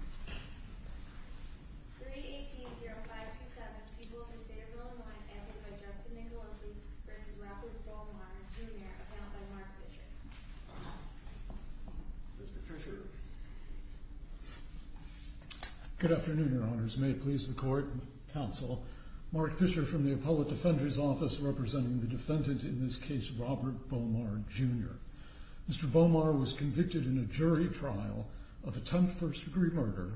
3-18-0527 People of the State of Illinois Advocate by Justin Nicolosi v. Robert Bomar, Jr. Account by Mark Fisher Mr. Fisher Good afternoon, Your Honors. May it please the Court, Counsel, Mark Fisher from the Appellate Defender's Office, representing the defendant in this case, Robert Bomar, Jr. Mr. Bomar was convicted in a jury trial of attempted first-degree murder,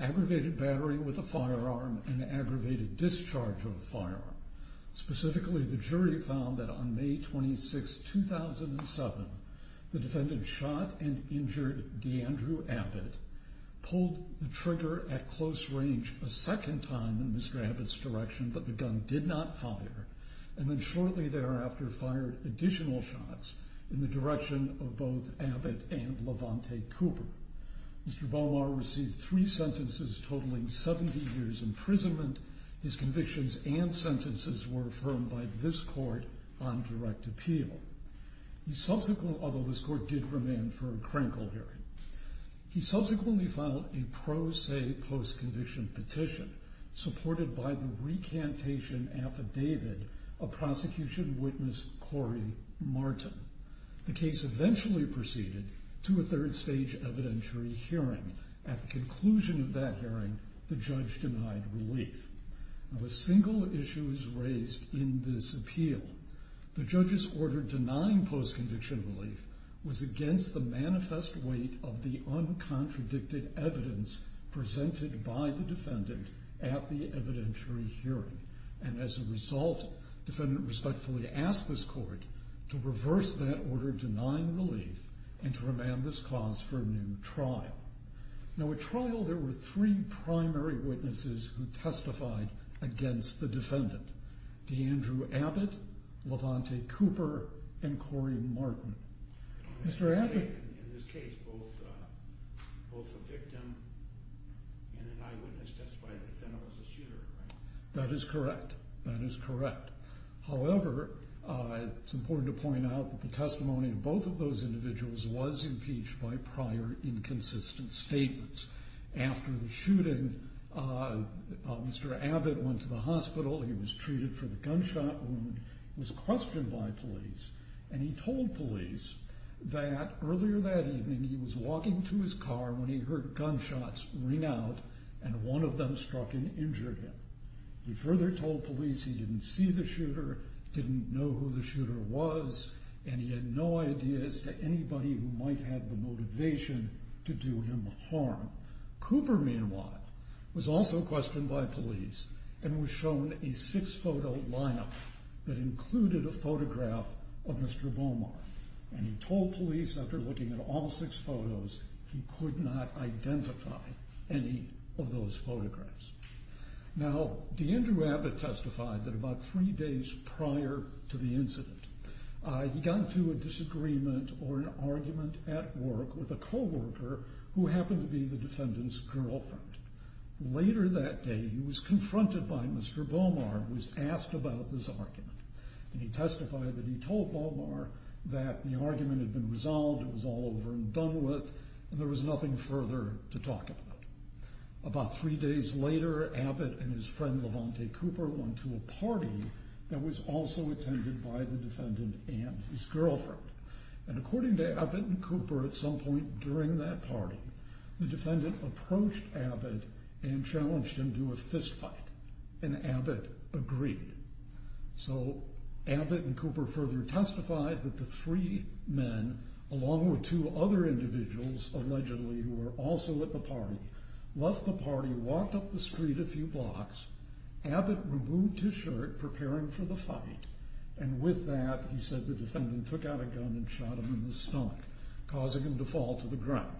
aggravated battery with a firearm, and aggravated discharge of a firearm. Specifically, the jury found that on May 26, 2007, the defendant shot and injured DeAndrew Abbott, pulled the trigger at close range a second time in Mr. Abbott's direction, but the gun did not fire, and then shortly thereafter fired additional shots in the direction of both Abbott and Levante Cooper. Mr. Bomar received three sentences totaling 70 years' imprisonment. His convictions and sentences were affirmed by this Court on direct appeal. He subsequently, although this Court did remand for a Krenkel hearing, he subsequently filed a pro se post-conviction petition supported by the recantation affidavit of prosecution witness Corey Martin. The case eventually proceeded to a third-stage evidentiary hearing. At the conclusion of that hearing, the judge denied relief. Of the single issues raised in this appeal, the judge's order denying post-conviction relief was against the manifest weight of the uncontradicted evidence presented by the defendant at the evidentiary hearing. And as a result, the defendant respectfully asked this Court to reverse that order denying relief and to remand this cause for a new trial. Now at trial, there were three primary witnesses who testified against the defendant, DeAndrew Abbott, Levante Cooper, and Corey Martin. Mr. Abbott... That is correct. That is correct. However, it's important to point out that the testimony of both of those individuals was impeached by prior inconsistent statements. After the shooting, Mr. Abbott went to the hospital. He was treated for the gunshot wound. He was questioned by police, and he told police that earlier that evening he was walking to his car when he heard gunshots ring out, and one of them struck and injured him. He further told police he didn't see the shooter, didn't know who the shooter was, and he had no idea as to anybody who might have the motivation to do him harm. Cooper, meanwhile, was also questioned by police and was shown a six-photo lineup that included a photograph of Mr. Beaumont, and he told police after looking at all six photos he could not identify any of those photographs. Now, D'Andrew Abbott testified that about three days prior to the incident he got into a disagreement or an argument at work with a co-worker who happened to be the defendant's girlfriend. Later that day, he was confronted by Mr. Beaumont, who was asked about this argument, and he testified that he told Beaumont that the argument had been resolved, it was all over and done with, and there was nothing further to talk about. About three days later, Abbott and his friend Lavonte Cooper went to a party that was also attended by the defendant and his girlfriend, and according to Abbott and Cooper, at some point during that party, the defendant approached Abbott and challenged him to a fistfight, and Abbott agreed. So Abbott and Cooper further testified that the three men, along with two other individuals, allegedly, who were also at the party, left the party, walked up the street a few blocks, Abbott removed his shirt, preparing for the fight, and with that, he said the defendant took out a gun and shot him in the stomach, causing him to fall to the ground.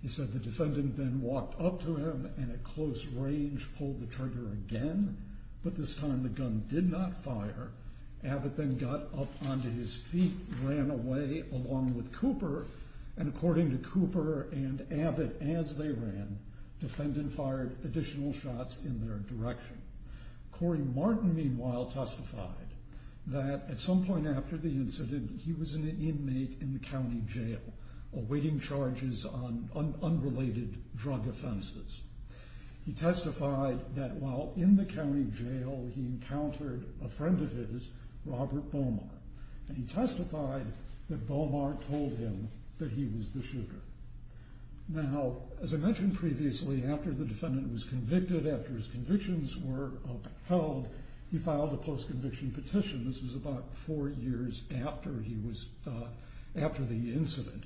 He said the defendant then walked up to him and at close range pulled the trigger again, but this time the gun did not fire. Abbott then got up onto his feet, ran away along with Cooper, and according to Cooper and Abbott, as they ran, the defendant fired additional shots in their direction. Cory Martin, meanwhile, testified that at some point after the incident, he was an inmate in the county jail, awaiting charges on unrelated drug offenses. He testified that while in the county jail, he encountered a friend of his, Robert Bomar, and he testified that Bomar told him that he was the shooter. Now, as I mentioned previously, after the defendant was convicted, after his convictions were upheld, he filed a post-conviction petition. This was about four years after the incident,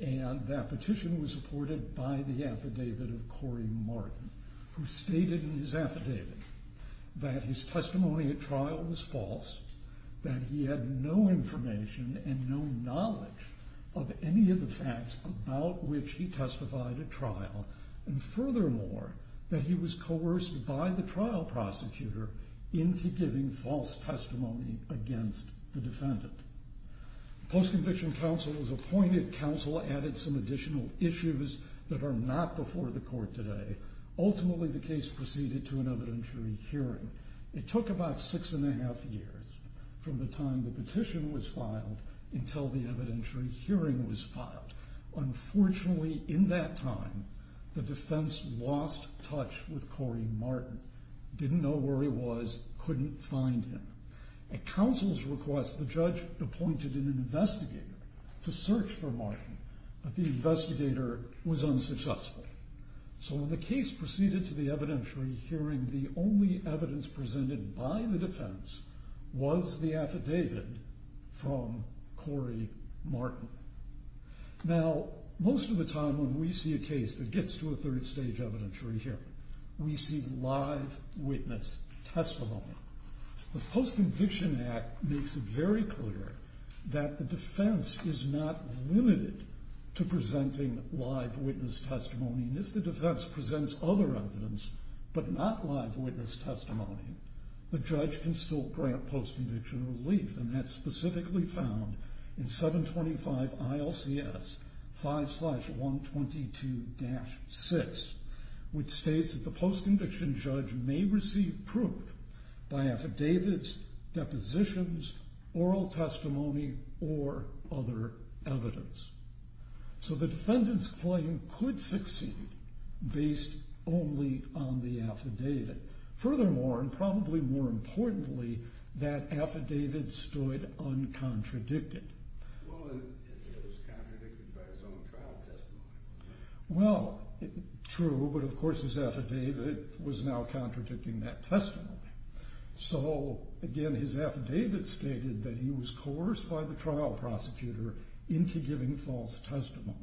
and that petition was supported by the affidavit of Cory Martin, who stated in his affidavit that his testimony at trial was false, that he had no information and no knowledge of any of the facts about which he testified at trial, and furthermore, that he was coerced by the trial prosecutor into giving false testimony against the defendant. Post-conviction counsel was appointed. Counsel added some additional issues that are not before the court today. Ultimately, the case proceeded to an evidentiary hearing. It took about six and a half years from the time the petition was filed until the evidentiary hearing was filed. Unfortunately, in that time, the defense lost touch with Cory Martin, didn't know where he was, couldn't find him. At counsel's request, the judge appointed an investigator to search for Martin, but the investigator was unsuccessful. So when the case proceeded to the evidentiary hearing, the only evidence presented by the defense was the affidavit from Cory Martin. Now, most of the time when we see a case that gets to a third-stage evidentiary hearing, we see live witness testimony. The Post-Conviction Act makes it very clear that the defense is not limited to presenting live witness testimony, and if the defense presents other evidence but not live witness testimony, the judge can still grant post-conviction relief, and that's specifically found in 725 ILCS 5-122-6, which states that the post-conviction judge may receive proof by affidavits, depositions, oral testimony, or other evidence. So the defendant's claim could succeed based only on the affidavit. Furthermore, and probably more importantly, that affidavit stood uncontradicted. Well, it was contradicted by his own trial testimony. Well, true, but of course his affidavit was now contradicting that testimony. So, again, his affidavit stated that he was coerced by the trial prosecutor into giving false testimony.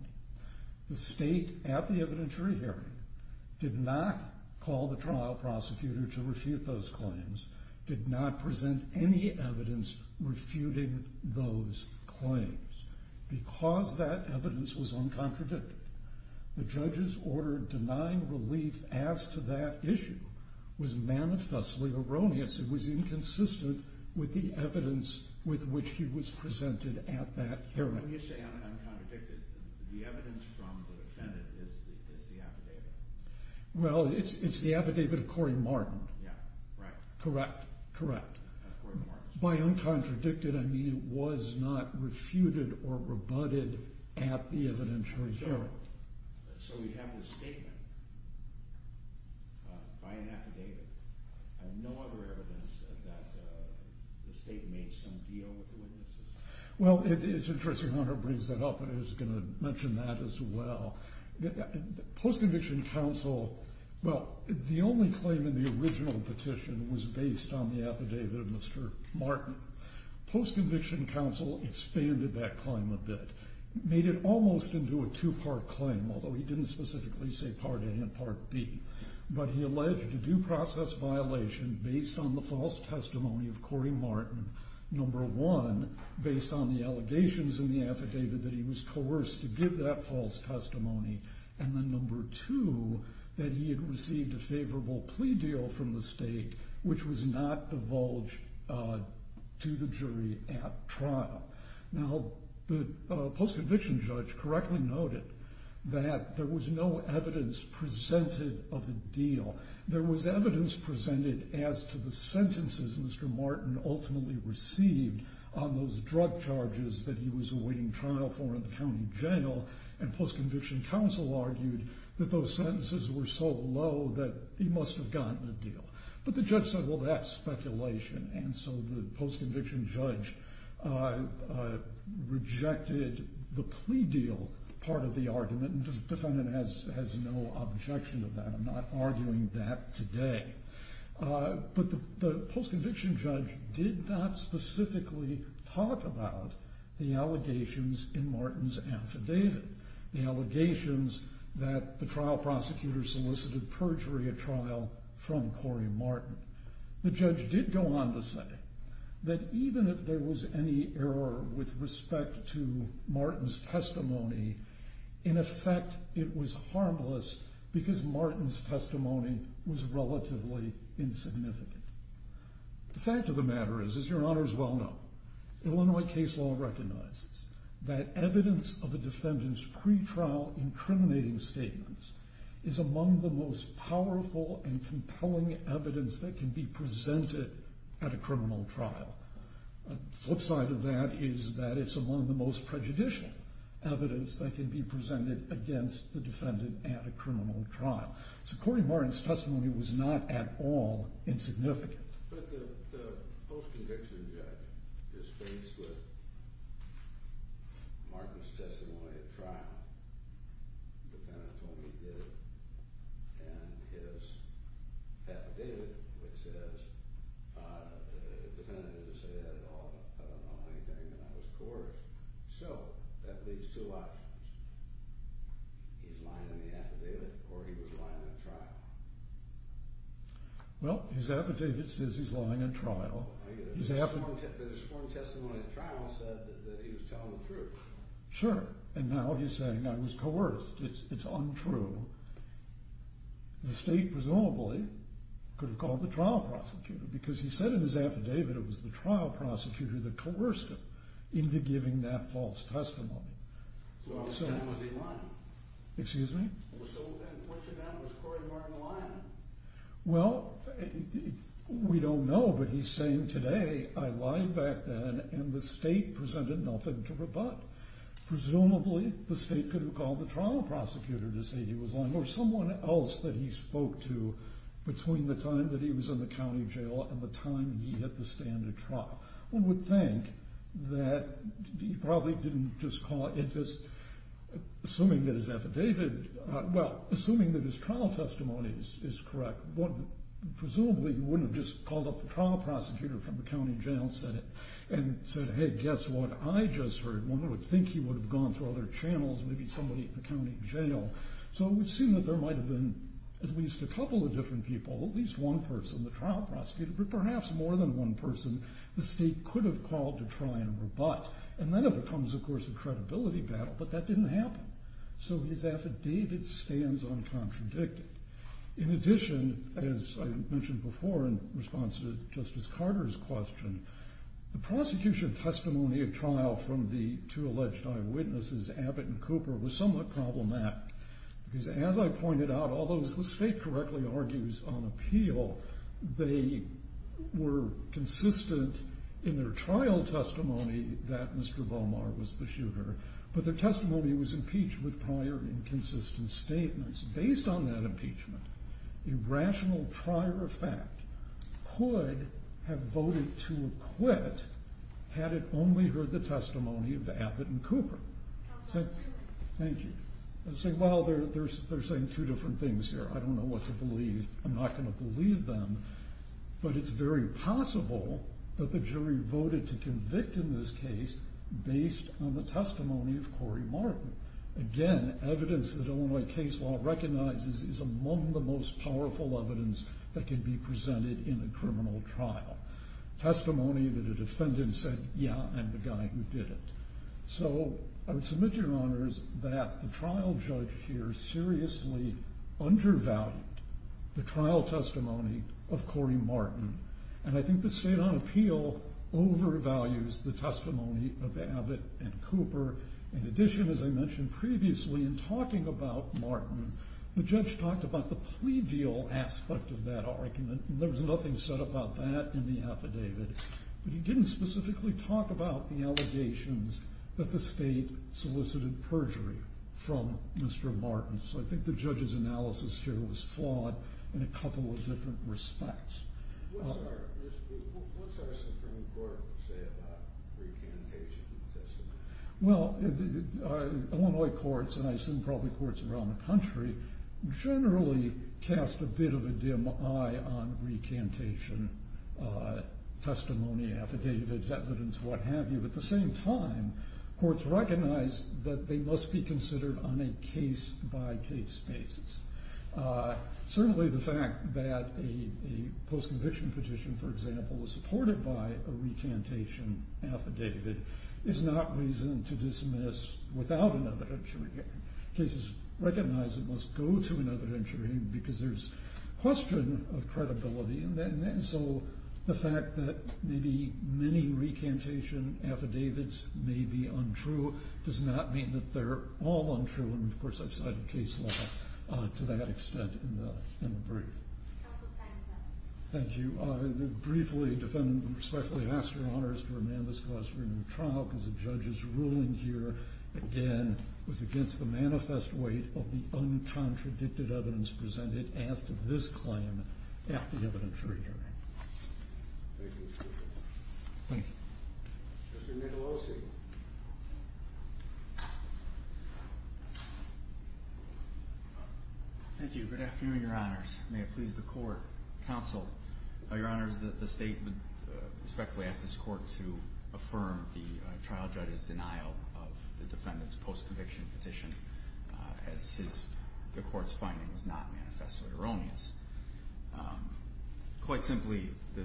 The state at the evidentiary hearing did not call the trial prosecutor to refute those claims, did not present any evidence refuting those claims. Because that evidence was uncontradicted, the judge's order denying relief as to that issue was manifestly erroneous. It was inconsistent with the evidence with which he was presented at that hearing. When you say uncontradicted, the evidence from the defendant is the affidavit? Well, it's the affidavit of Corey Martin. Yeah, right. Correct, correct. By uncontradicted, I mean it was not refuted or rebutted at the evidentiary hearing. So we have this statement by an affidavit, and no other evidence that the state made some deal with the witnesses? Well, it's interesting how Hunter brings that up, and I was going to mention that as well. Post-conviction counsel, well, the only claim in the original petition was based on the affidavit of Mr. Martin. Post-conviction counsel expanded that claim a bit, made it almost into a two-part claim, although he didn't specifically say Part A and Part B. But he alleged a due process violation based on the false testimony of Corey Martin, number one, based on the allegations in the affidavit that he was coerced to give that false testimony, and then number two, that he had received a favorable plea deal from the state which was not divulged to the jury at trial. Now, the post-conviction judge correctly noted that there was no evidence presented of a deal. There was evidence presented as to the sentences Mr. Martin ultimately received on those drug charges that he was awaiting trial for in the county jail, and post-conviction counsel argued that those sentences were so low that he must have gotten a deal. But the judge said, well, that's speculation, and so the post-conviction judge rejected the plea deal part of the argument, and the defendant has no objection to that. I'm not arguing that today. But the post-conviction judge did not specifically talk about the allegations in Martin's affidavit, the allegations that the trial prosecutor solicited perjury at trial from Corey Martin. The judge did go on to say that even if there was any error with respect to Martin's testimony, in effect it was harmless because Martin's testimony was relatively insignificant. The fact of the matter is, as your honors well know, Illinois case law recognizes that evidence of a defendant's pretrial incriminating statements is among the most powerful and compelling evidence that can be presented at a criminal trial. The flip side of that is that it's among the most prejudicial evidence that can be presented against the defendant at a criminal trial. So Corey Martin's testimony was not at all insignificant. But the post-conviction judge is faced with Martin's testimony at trial. The defendant told him he did it, and his affidavit, which says the defendant didn't say that at all, I don't know anything, that I was coerced. So that leads to options. He's lying in the affidavit or he was lying at trial. Well, his affidavit says he's lying at trial. His sworn testimony at trial said that he was telling the truth. Sure, and now he's saying I was coerced. It's untrue. The state presumably could have called the trial prosecutor because he said in his affidavit it was the trial prosecutor that coerced him into giving that false testimony. So what was done was he lying? Excuse me? So what was done was Corey Martin lying? Well, we don't know, but he's saying today I lied back then and the state presented nothing to rebut. Presumably the state could have called the trial prosecutor to say he was lying or someone else that he spoke to between the time that he was in the county jail and the time he hit the standard trial. One would think that he probably didn't just call it, just assuming that his affidavit, well, assuming that his trial testimony is correct, presumably he wouldn't have just called up the trial prosecutor from the county jail and said, hey, guess what? From what I just heard, one would think he would have gone through other channels, maybe somebody at the county jail. So it would seem that there might have been at least a couple of different people, at least one person, the trial prosecutor, but perhaps more than one person the state could have called to try and rebut. And then it becomes, of course, a credibility battle, but that didn't happen. So his affidavit stands uncontradicted. In addition, as I mentioned before in response to Justice Carter's question, the prosecution testimony at trial from the two alleged eyewitnesses, Abbott and Cooper, was somewhat problematic because, as I pointed out, although the state correctly argues on appeal, they were consistent in their trial testimony that Mr. Bomar was the shooter, but their testimony was impeached with prior inconsistent statements. Based on that impeachment, a rational prior effect could have voted to acquit had it only heard the testimony of Abbott and Cooper. Thank you. They say, well, they're saying two different things here. I don't know what to believe. I'm not going to believe them. But it's very possible that the jury voted to convict in this case based on the testimony of Corey Martin. Again, evidence that Illinois case law recognizes is among the most powerful evidence that can be presented in a criminal trial. Testimony that a defendant said, yeah, I'm the guy who did it. So I would submit, Your Honors, that the trial judge here seriously undervalued the trial testimony of Corey Martin. And I think the state on appeal overvalues the testimony of Abbott and Cooper. In addition, as I mentioned previously, in talking about Martin, the judge talked about the plea deal aspect of that argument. There was nothing said about that in the affidavit. But he didn't specifically talk about the allegations that the state solicited perjury from Mr. Martin. So I think the judge's analysis here was flawed in a couple of different respects. What's our Supreme Court say about recantation testimony? Well, Illinois courts, and I assume probably courts around the country, generally cast a bit of a dim eye on recantation testimony, affidavits, evidence, what have you. At the same time, courts recognize that they must be considered on a case-by-case basis. Certainly the fact that a post-conviction petition, for example, is supported by a recantation affidavit is not reason to dismiss without an evidentiary. Cases recognize it must go to an evidentiary because there's question of credibility. And so the fact that maybe many recantation affidavits may be untrue does not mean that they're all untrue. And, of course, I've cited case law to that extent in the brief. Thank you. Briefly, defendant, respectfully ask your honors to remand this class for a new trial because the judge's ruling here, again, was against the manifest weight of the uncontradicted evidence presented as to this claim at the evidentiary hearing. Thank you. Thank you. Mr. Nicolosi. Thank you. Good afternoon, your honors. May it please the court. Counsel, your honors, the state would respectfully ask this court to affirm the trial judge's denial of the defendant's post-conviction petition as the court's finding was not manifestly erroneous. Quite simply, the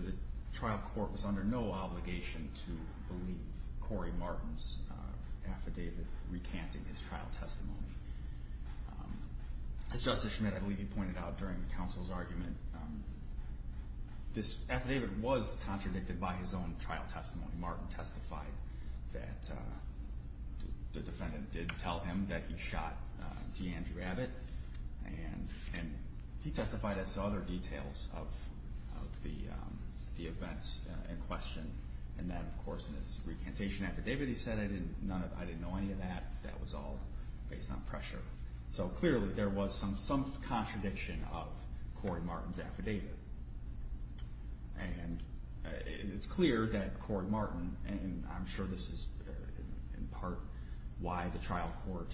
trial court was under no obligation to believe Corey Martin's affidavit recanting his trial testimony. As Justice Schmidt, I believe, pointed out during the counsel's argument, this affidavit was contradicted by his own trial testimony. Martin testified that the defendant did tell him that he shot D'Andrew Abbott. And he testified as to other details of the events in question, and that, of course, in his recantation affidavit he said, I didn't know any of that. That was all based on pressure. So clearly there was some contradiction of Corey Martin's affidavit. And it's clear that Corey Martin, and I'm sure this is in part why the trial court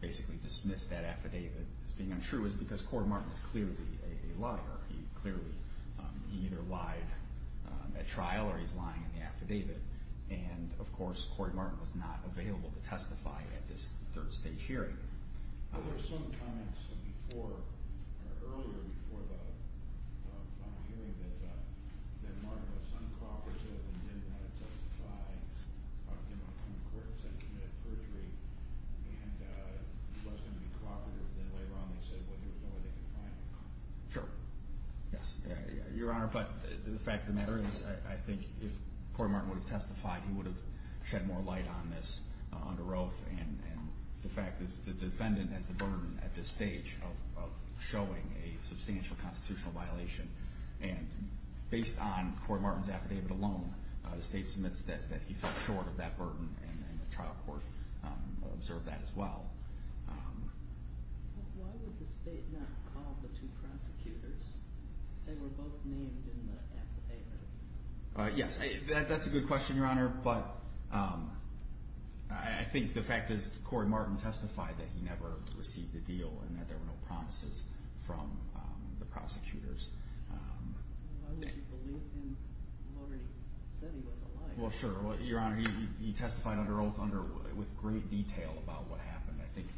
basically dismissed that affidavit as being untrue, is because Corey Martin is clearly a liar. He clearly either lied at trial or he's lying in the affidavit. And, of course, Corey Martin was not available to testify at this third-stage hearing. There were some comments before or earlier before the final hearing that Martin was uncooperative and didn't want to testify, didn't want to come to court, said he committed perjury, and he wasn't going to be cooperative. Then later on they said, well, there was no way they could find him. Sure, yes, Your Honor. But the fact of the matter is I think if Corey Martin would have testified, he would have shed more light on this under oath. And the fact is the defendant has the burden at this stage of showing a substantial constitutional violation. And based on Corey Martin's affidavit alone, the state submits that he fell short of that burden, and the trial court observed that as well. Why would the state not call the two prosecutors? They were both named in the affidavit. Yes, that's a good question, Your Honor. But I think the fact is Corey Martin testified that he never received a deal and that there were no promises from the prosecutors. Why would you believe him when he said he was a liar? Well, sure, Your Honor. He testified under oath with great detail about what happened. I think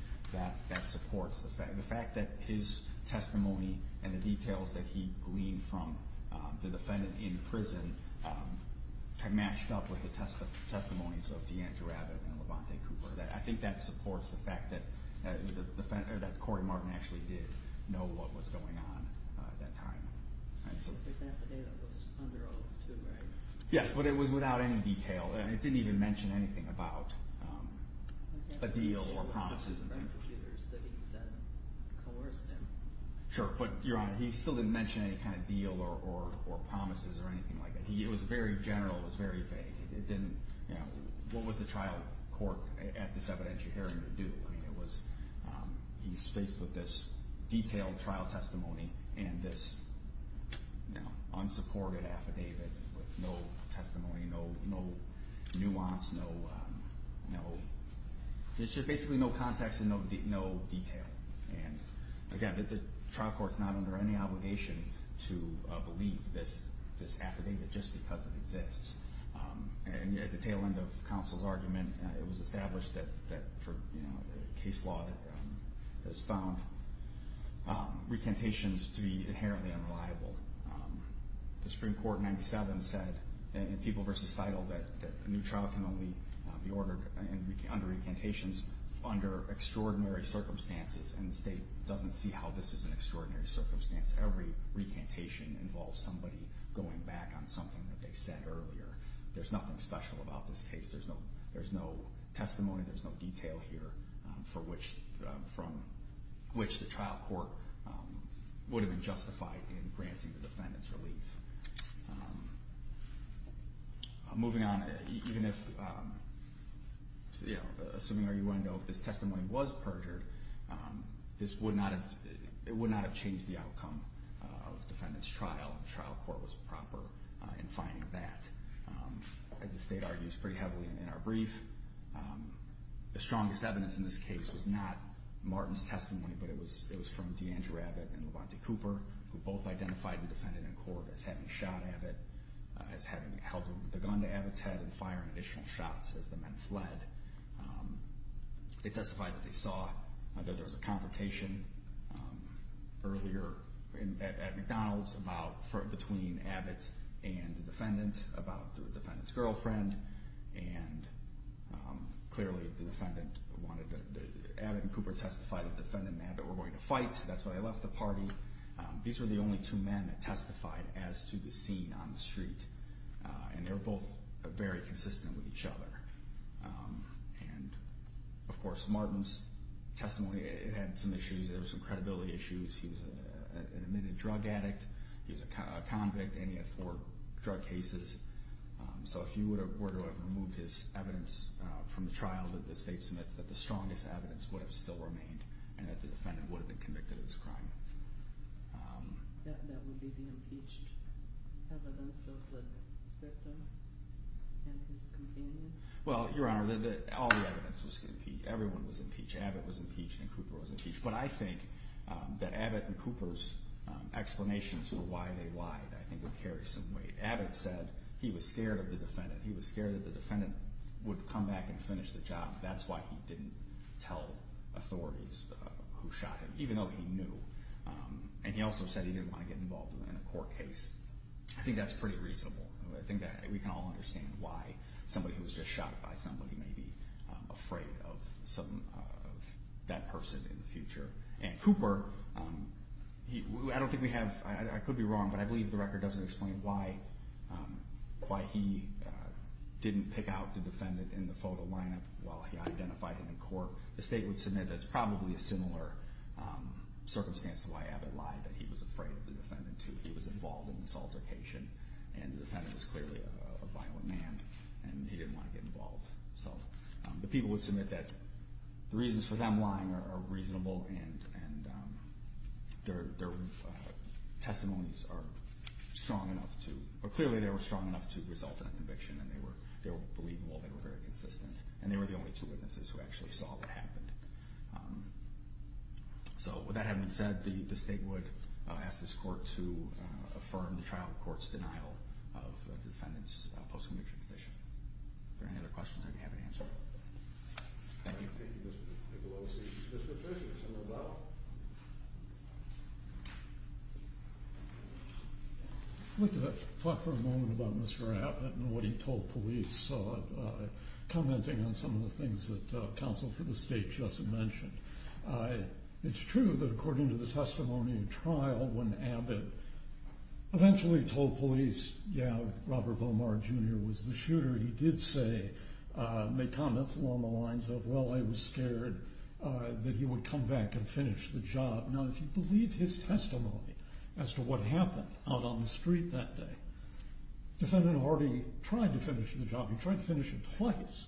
that supports the fact that his testimony and the details that he gleaned from the defendant in prison kind of matched up with the testimonies of DeAndre Rabbit and Levante Cooper. I think that supports the fact that Corey Martin actually did know what was going on at that time. His affidavit was under oath, too, right? Yes, but it was without any detail. It didn't even mention anything about a deal or promises. The prosecutors that he said coerced him. Sure, but Your Honor, he still didn't mention any kind of deal or promises or anything like that. It was very general. It was very vague. What was the trial court at this evidentiary hearing to do? He's faced with this detailed trial testimony and this unsupported affidavit with no testimony, no nuance, basically no context and no detail. Again, the trial court is not under any obligation to believe this affidavit just because it exists. At the tail end of counsel's argument, it was established that the case law has found recantations to be inherently unreliable. The Supreme Court in 97 said in People v. Fidle that a new trial can only be ordered under recantations under extraordinary circumstances, and the State doesn't see how this is an extraordinary circumstance. Every recantation involves somebody going back on something that they said earlier. There's nothing special about this case. There's no testimony, there's no detail here from which the trial court would have been justified in granting the defendant's relief. Moving on, even if, you know, assuming our U.N. know if this testimony was perjured, it would not have changed the outcome of the defendant's trial, and the trial court was proper in finding that. As the State argues pretty heavily in our brief, the strongest evidence in this case was not Martin's testimony, but it was from DeAndre Abbott and LeVante Cooper, who both identified the defendant in court as having shot Abbott, as having held the gun to Abbott's head and firing additional shots as the men fled. They testified that they saw that there was a confrontation earlier at McDonald's between Abbott and the defendant about the defendant's girlfriend, and clearly Abbott and Cooper testified that the defendant and Abbott were going to fight, and that's why they left the party. These were the only two men that testified as to the scene on the street, and they were both very consistent with each other. And, of course, Martin's testimony, it had some issues. There were some credibility issues. He was an admitted drug addict, he was a convict, and he had four drug cases. So if you were to have removed his evidence from the trial that the State submits, that the strongest evidence would have still remained, and that the defendant would have been convicted of this crime. That would be the impeached evidence of the victim and his companions? Well, Your Honor, all the evidence was impeached. Everyone was impeached. Abbott was impeached, and Cooper was impeached. But I think that Abbott and Cooper's explanations for why they lied I think would carry some weight. Abbott said he was scared of the defendant. He was scared that the defendant would come back and finish the job. That's why he didn't tell authorities who shot him, even though he knew. And he also said he didn't want to get involved in a court case. I think that's pretty reasonable. I think that we can all understand why somebody who was just shot by somebody may be afraid of that person in the future. And Cooper, I don't think we have, I could be wrong, but I believe the record doesn't explain why he didn't pick out the defendant in the photo lineup while he identified him in court. The State would submit that it's probably a similar circumstance to why Abbott lied, that he was afraid of the defendant too. He was involved in this altercation, and the defendant was clearly a violent man, and he didn't want to get involved. So the people would submit that the reasons for them lying are reasonable, and their testimonies are strong enough to, or clearly they were strong enough to result in a conviction, and they were believable, they were very consistent, and they were the only two witnesses who actually saw what happened. So with that having been said, the State would ask this court to affirm the trial court's denial of the defendant's post-conviction petition. Are there any other questions I didn't have an answer to? Thank you. Thank you, Mr. Piccolosi. Mr. Fisher, is someone about? I'd like to talk for a moment about Mr. Abbott and what he told police, commenting on some of the things that counsel for the State just mentioned. It's true that according to the testimony in trial, when Abbott eventually told police, yeah, Robert Beaumar, Jr. was the shooter, he did say, make comments along the lines of, well, I was scared that he would come back and finish the job. Now, if you believe his testimony as to what happened out on the street that day, the defendant already tried to finish the job. He tried to finish it twice.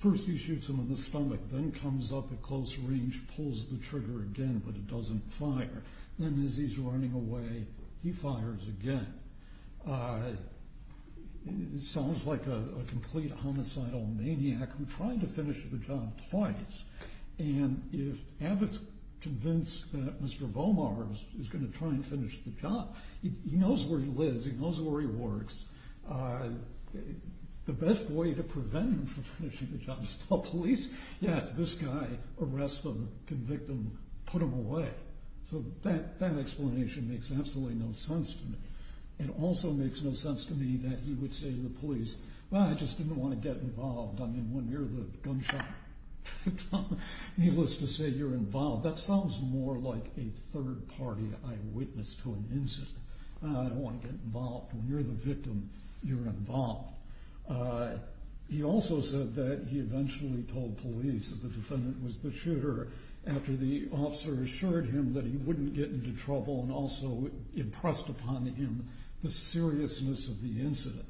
First he shoots him in the stomach, then comes up at close range, pulls the trigger again, but it doesn't fire. Then as he's running away, he fires again. It sounds like a complete homicidal maniac who tried to finish the job twice. And if Abbott's convinced that Mr. Beaumar is going to try and finish the job, he knows where he lives, he knows where he works. The best way to prevent him from finishing the job is to tell police, yes, this guy arrested him, convicted him, put him away. So that explanation makes absolutely no sense to me. It also makes no sense to me that he would say to the police, well, I just didn't want to get involved. I mean, when you're the gunshot victim, needless to say, you're involved. That sounds more like a third party eyewitness to an incident. I don't want to get involved. When you're the victim, you're involved. He also said that he eventually told police that the defendant was the shooter after the officer assured him that he wouldn't get into trouble and also impressed upon him the seriousness of the incident.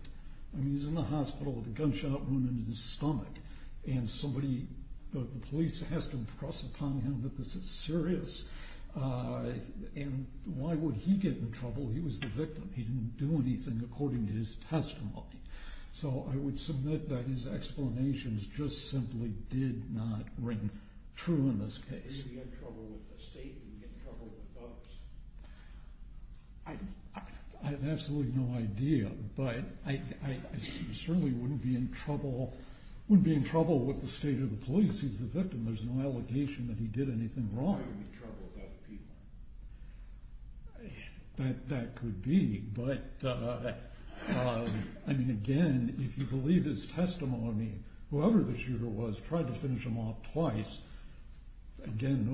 I mean, he's in the hospital with a gunshot wound in his stomach, and the police has to impress upon him that this is serious? And why would he get in trouble? He was the victim. He didn't do anything according to his testimony. So I would submit that his explanations just simply did not ring true in this case. If he had trouble with the state, would he get in trouble with others? I have absolutely no idea, but I certainly wouldn't be in trouble with the state or the police. He's the victim. There's no allegation that he did anything wrong. Why would he be in trouble with other people? That could be, but, I mean, again, if you believe his testimony, whoever the shooter was tried to finish him off twice. Again,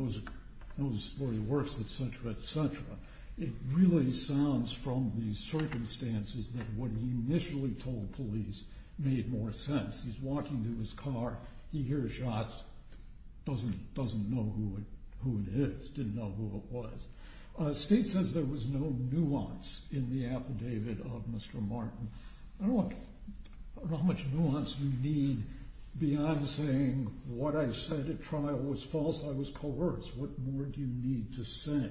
knows where he works, et cetera, et cetera. It really sounds from the circumstances that what he initially told the police made more sense. He's walking to his car. He hears shots, doesn't know who it is, didn't know who it was. The state says there was no nuance in the affidavit of Mr. Martin. I don't know how much nuance you need beyond saying what I said at trial was false. I was coerced. What more do you need to say?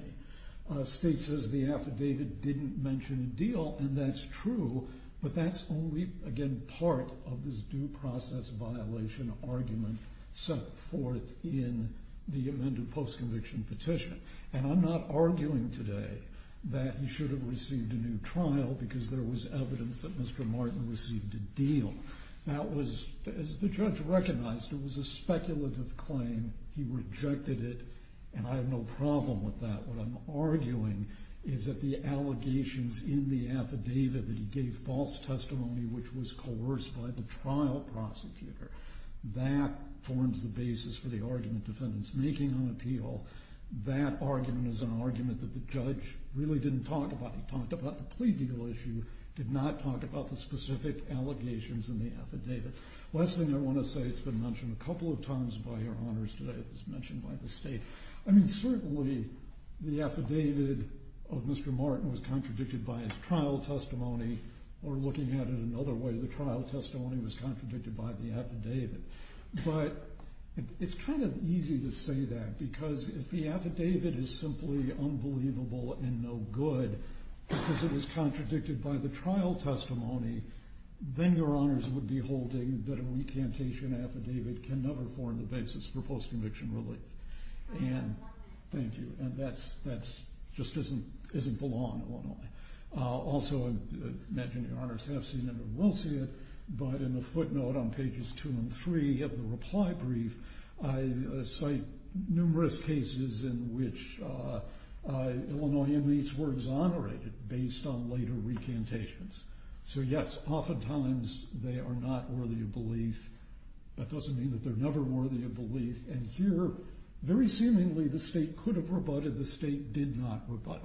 The state says the affidavit didn't mention a deal, and that's true, but that's only, again, part of this due process violation argument set forth in the amended post-conviction petition. And I'm not arguing today that he should have received a new trial because there was evidence that Mr. Martin received a deal. That was, as the judge recognized, it was a speculative claim. He rejected it, and I have no problem with that. What I'm arguing is that the allegations in the affidavit that he gave false testimony which was coerced by the trial prosecutor, that forms the basis for the argument defendants making on appeal. That argument is an argument that the judge really didn't talk about. He talked about the plea deal issue, did not talk about the specific allegations in the affidavit. Last thing I want to say, it's been mentioned a couple of times by your honors today. It was mentioned by the state. I mean, certainly the affidavit of Mr. Martin was contradicted by his trial testimony, or looking at it another way, the trial testimony was contradicted by the affidavit. But it's kind of easy to say that because if the affidavit is simply unbelievable and no good because it was contradicted by the trial testimony, then your honors would be holding that a recantation affidavit can never form the basis for post-conviction relief. Thank you. That just isn't the law in Illinois. Also, I imagine your honors have seen it or will see it, but in the footnote on pages 2 and 3 of the reply brief, I cite numerous cases in which Illinois inmates were exonerated based on later recantations. So, yes, oftentimes they are not worthy of belief. That doesn't mean that they're never worthy of belief. And here, very seemingly, the state could have rebutted. The state did not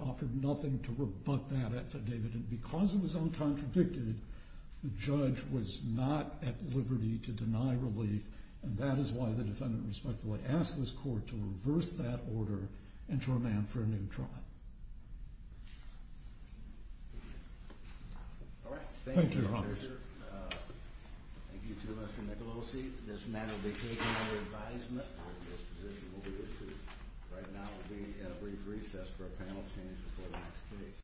offer nothing to rebut that affidavit. And because it was uncontradicted, the judge was not at liberty to deny relief, and that is why the defendant respectfully asked this court to reverse that order and to remand for a new trial. Thank you, your honors. Thank you to Mr. Nicolosi. This matter will be taken under advisement. This position will be issued. Right now, we'll be at a brief recess for a panel change before the next case.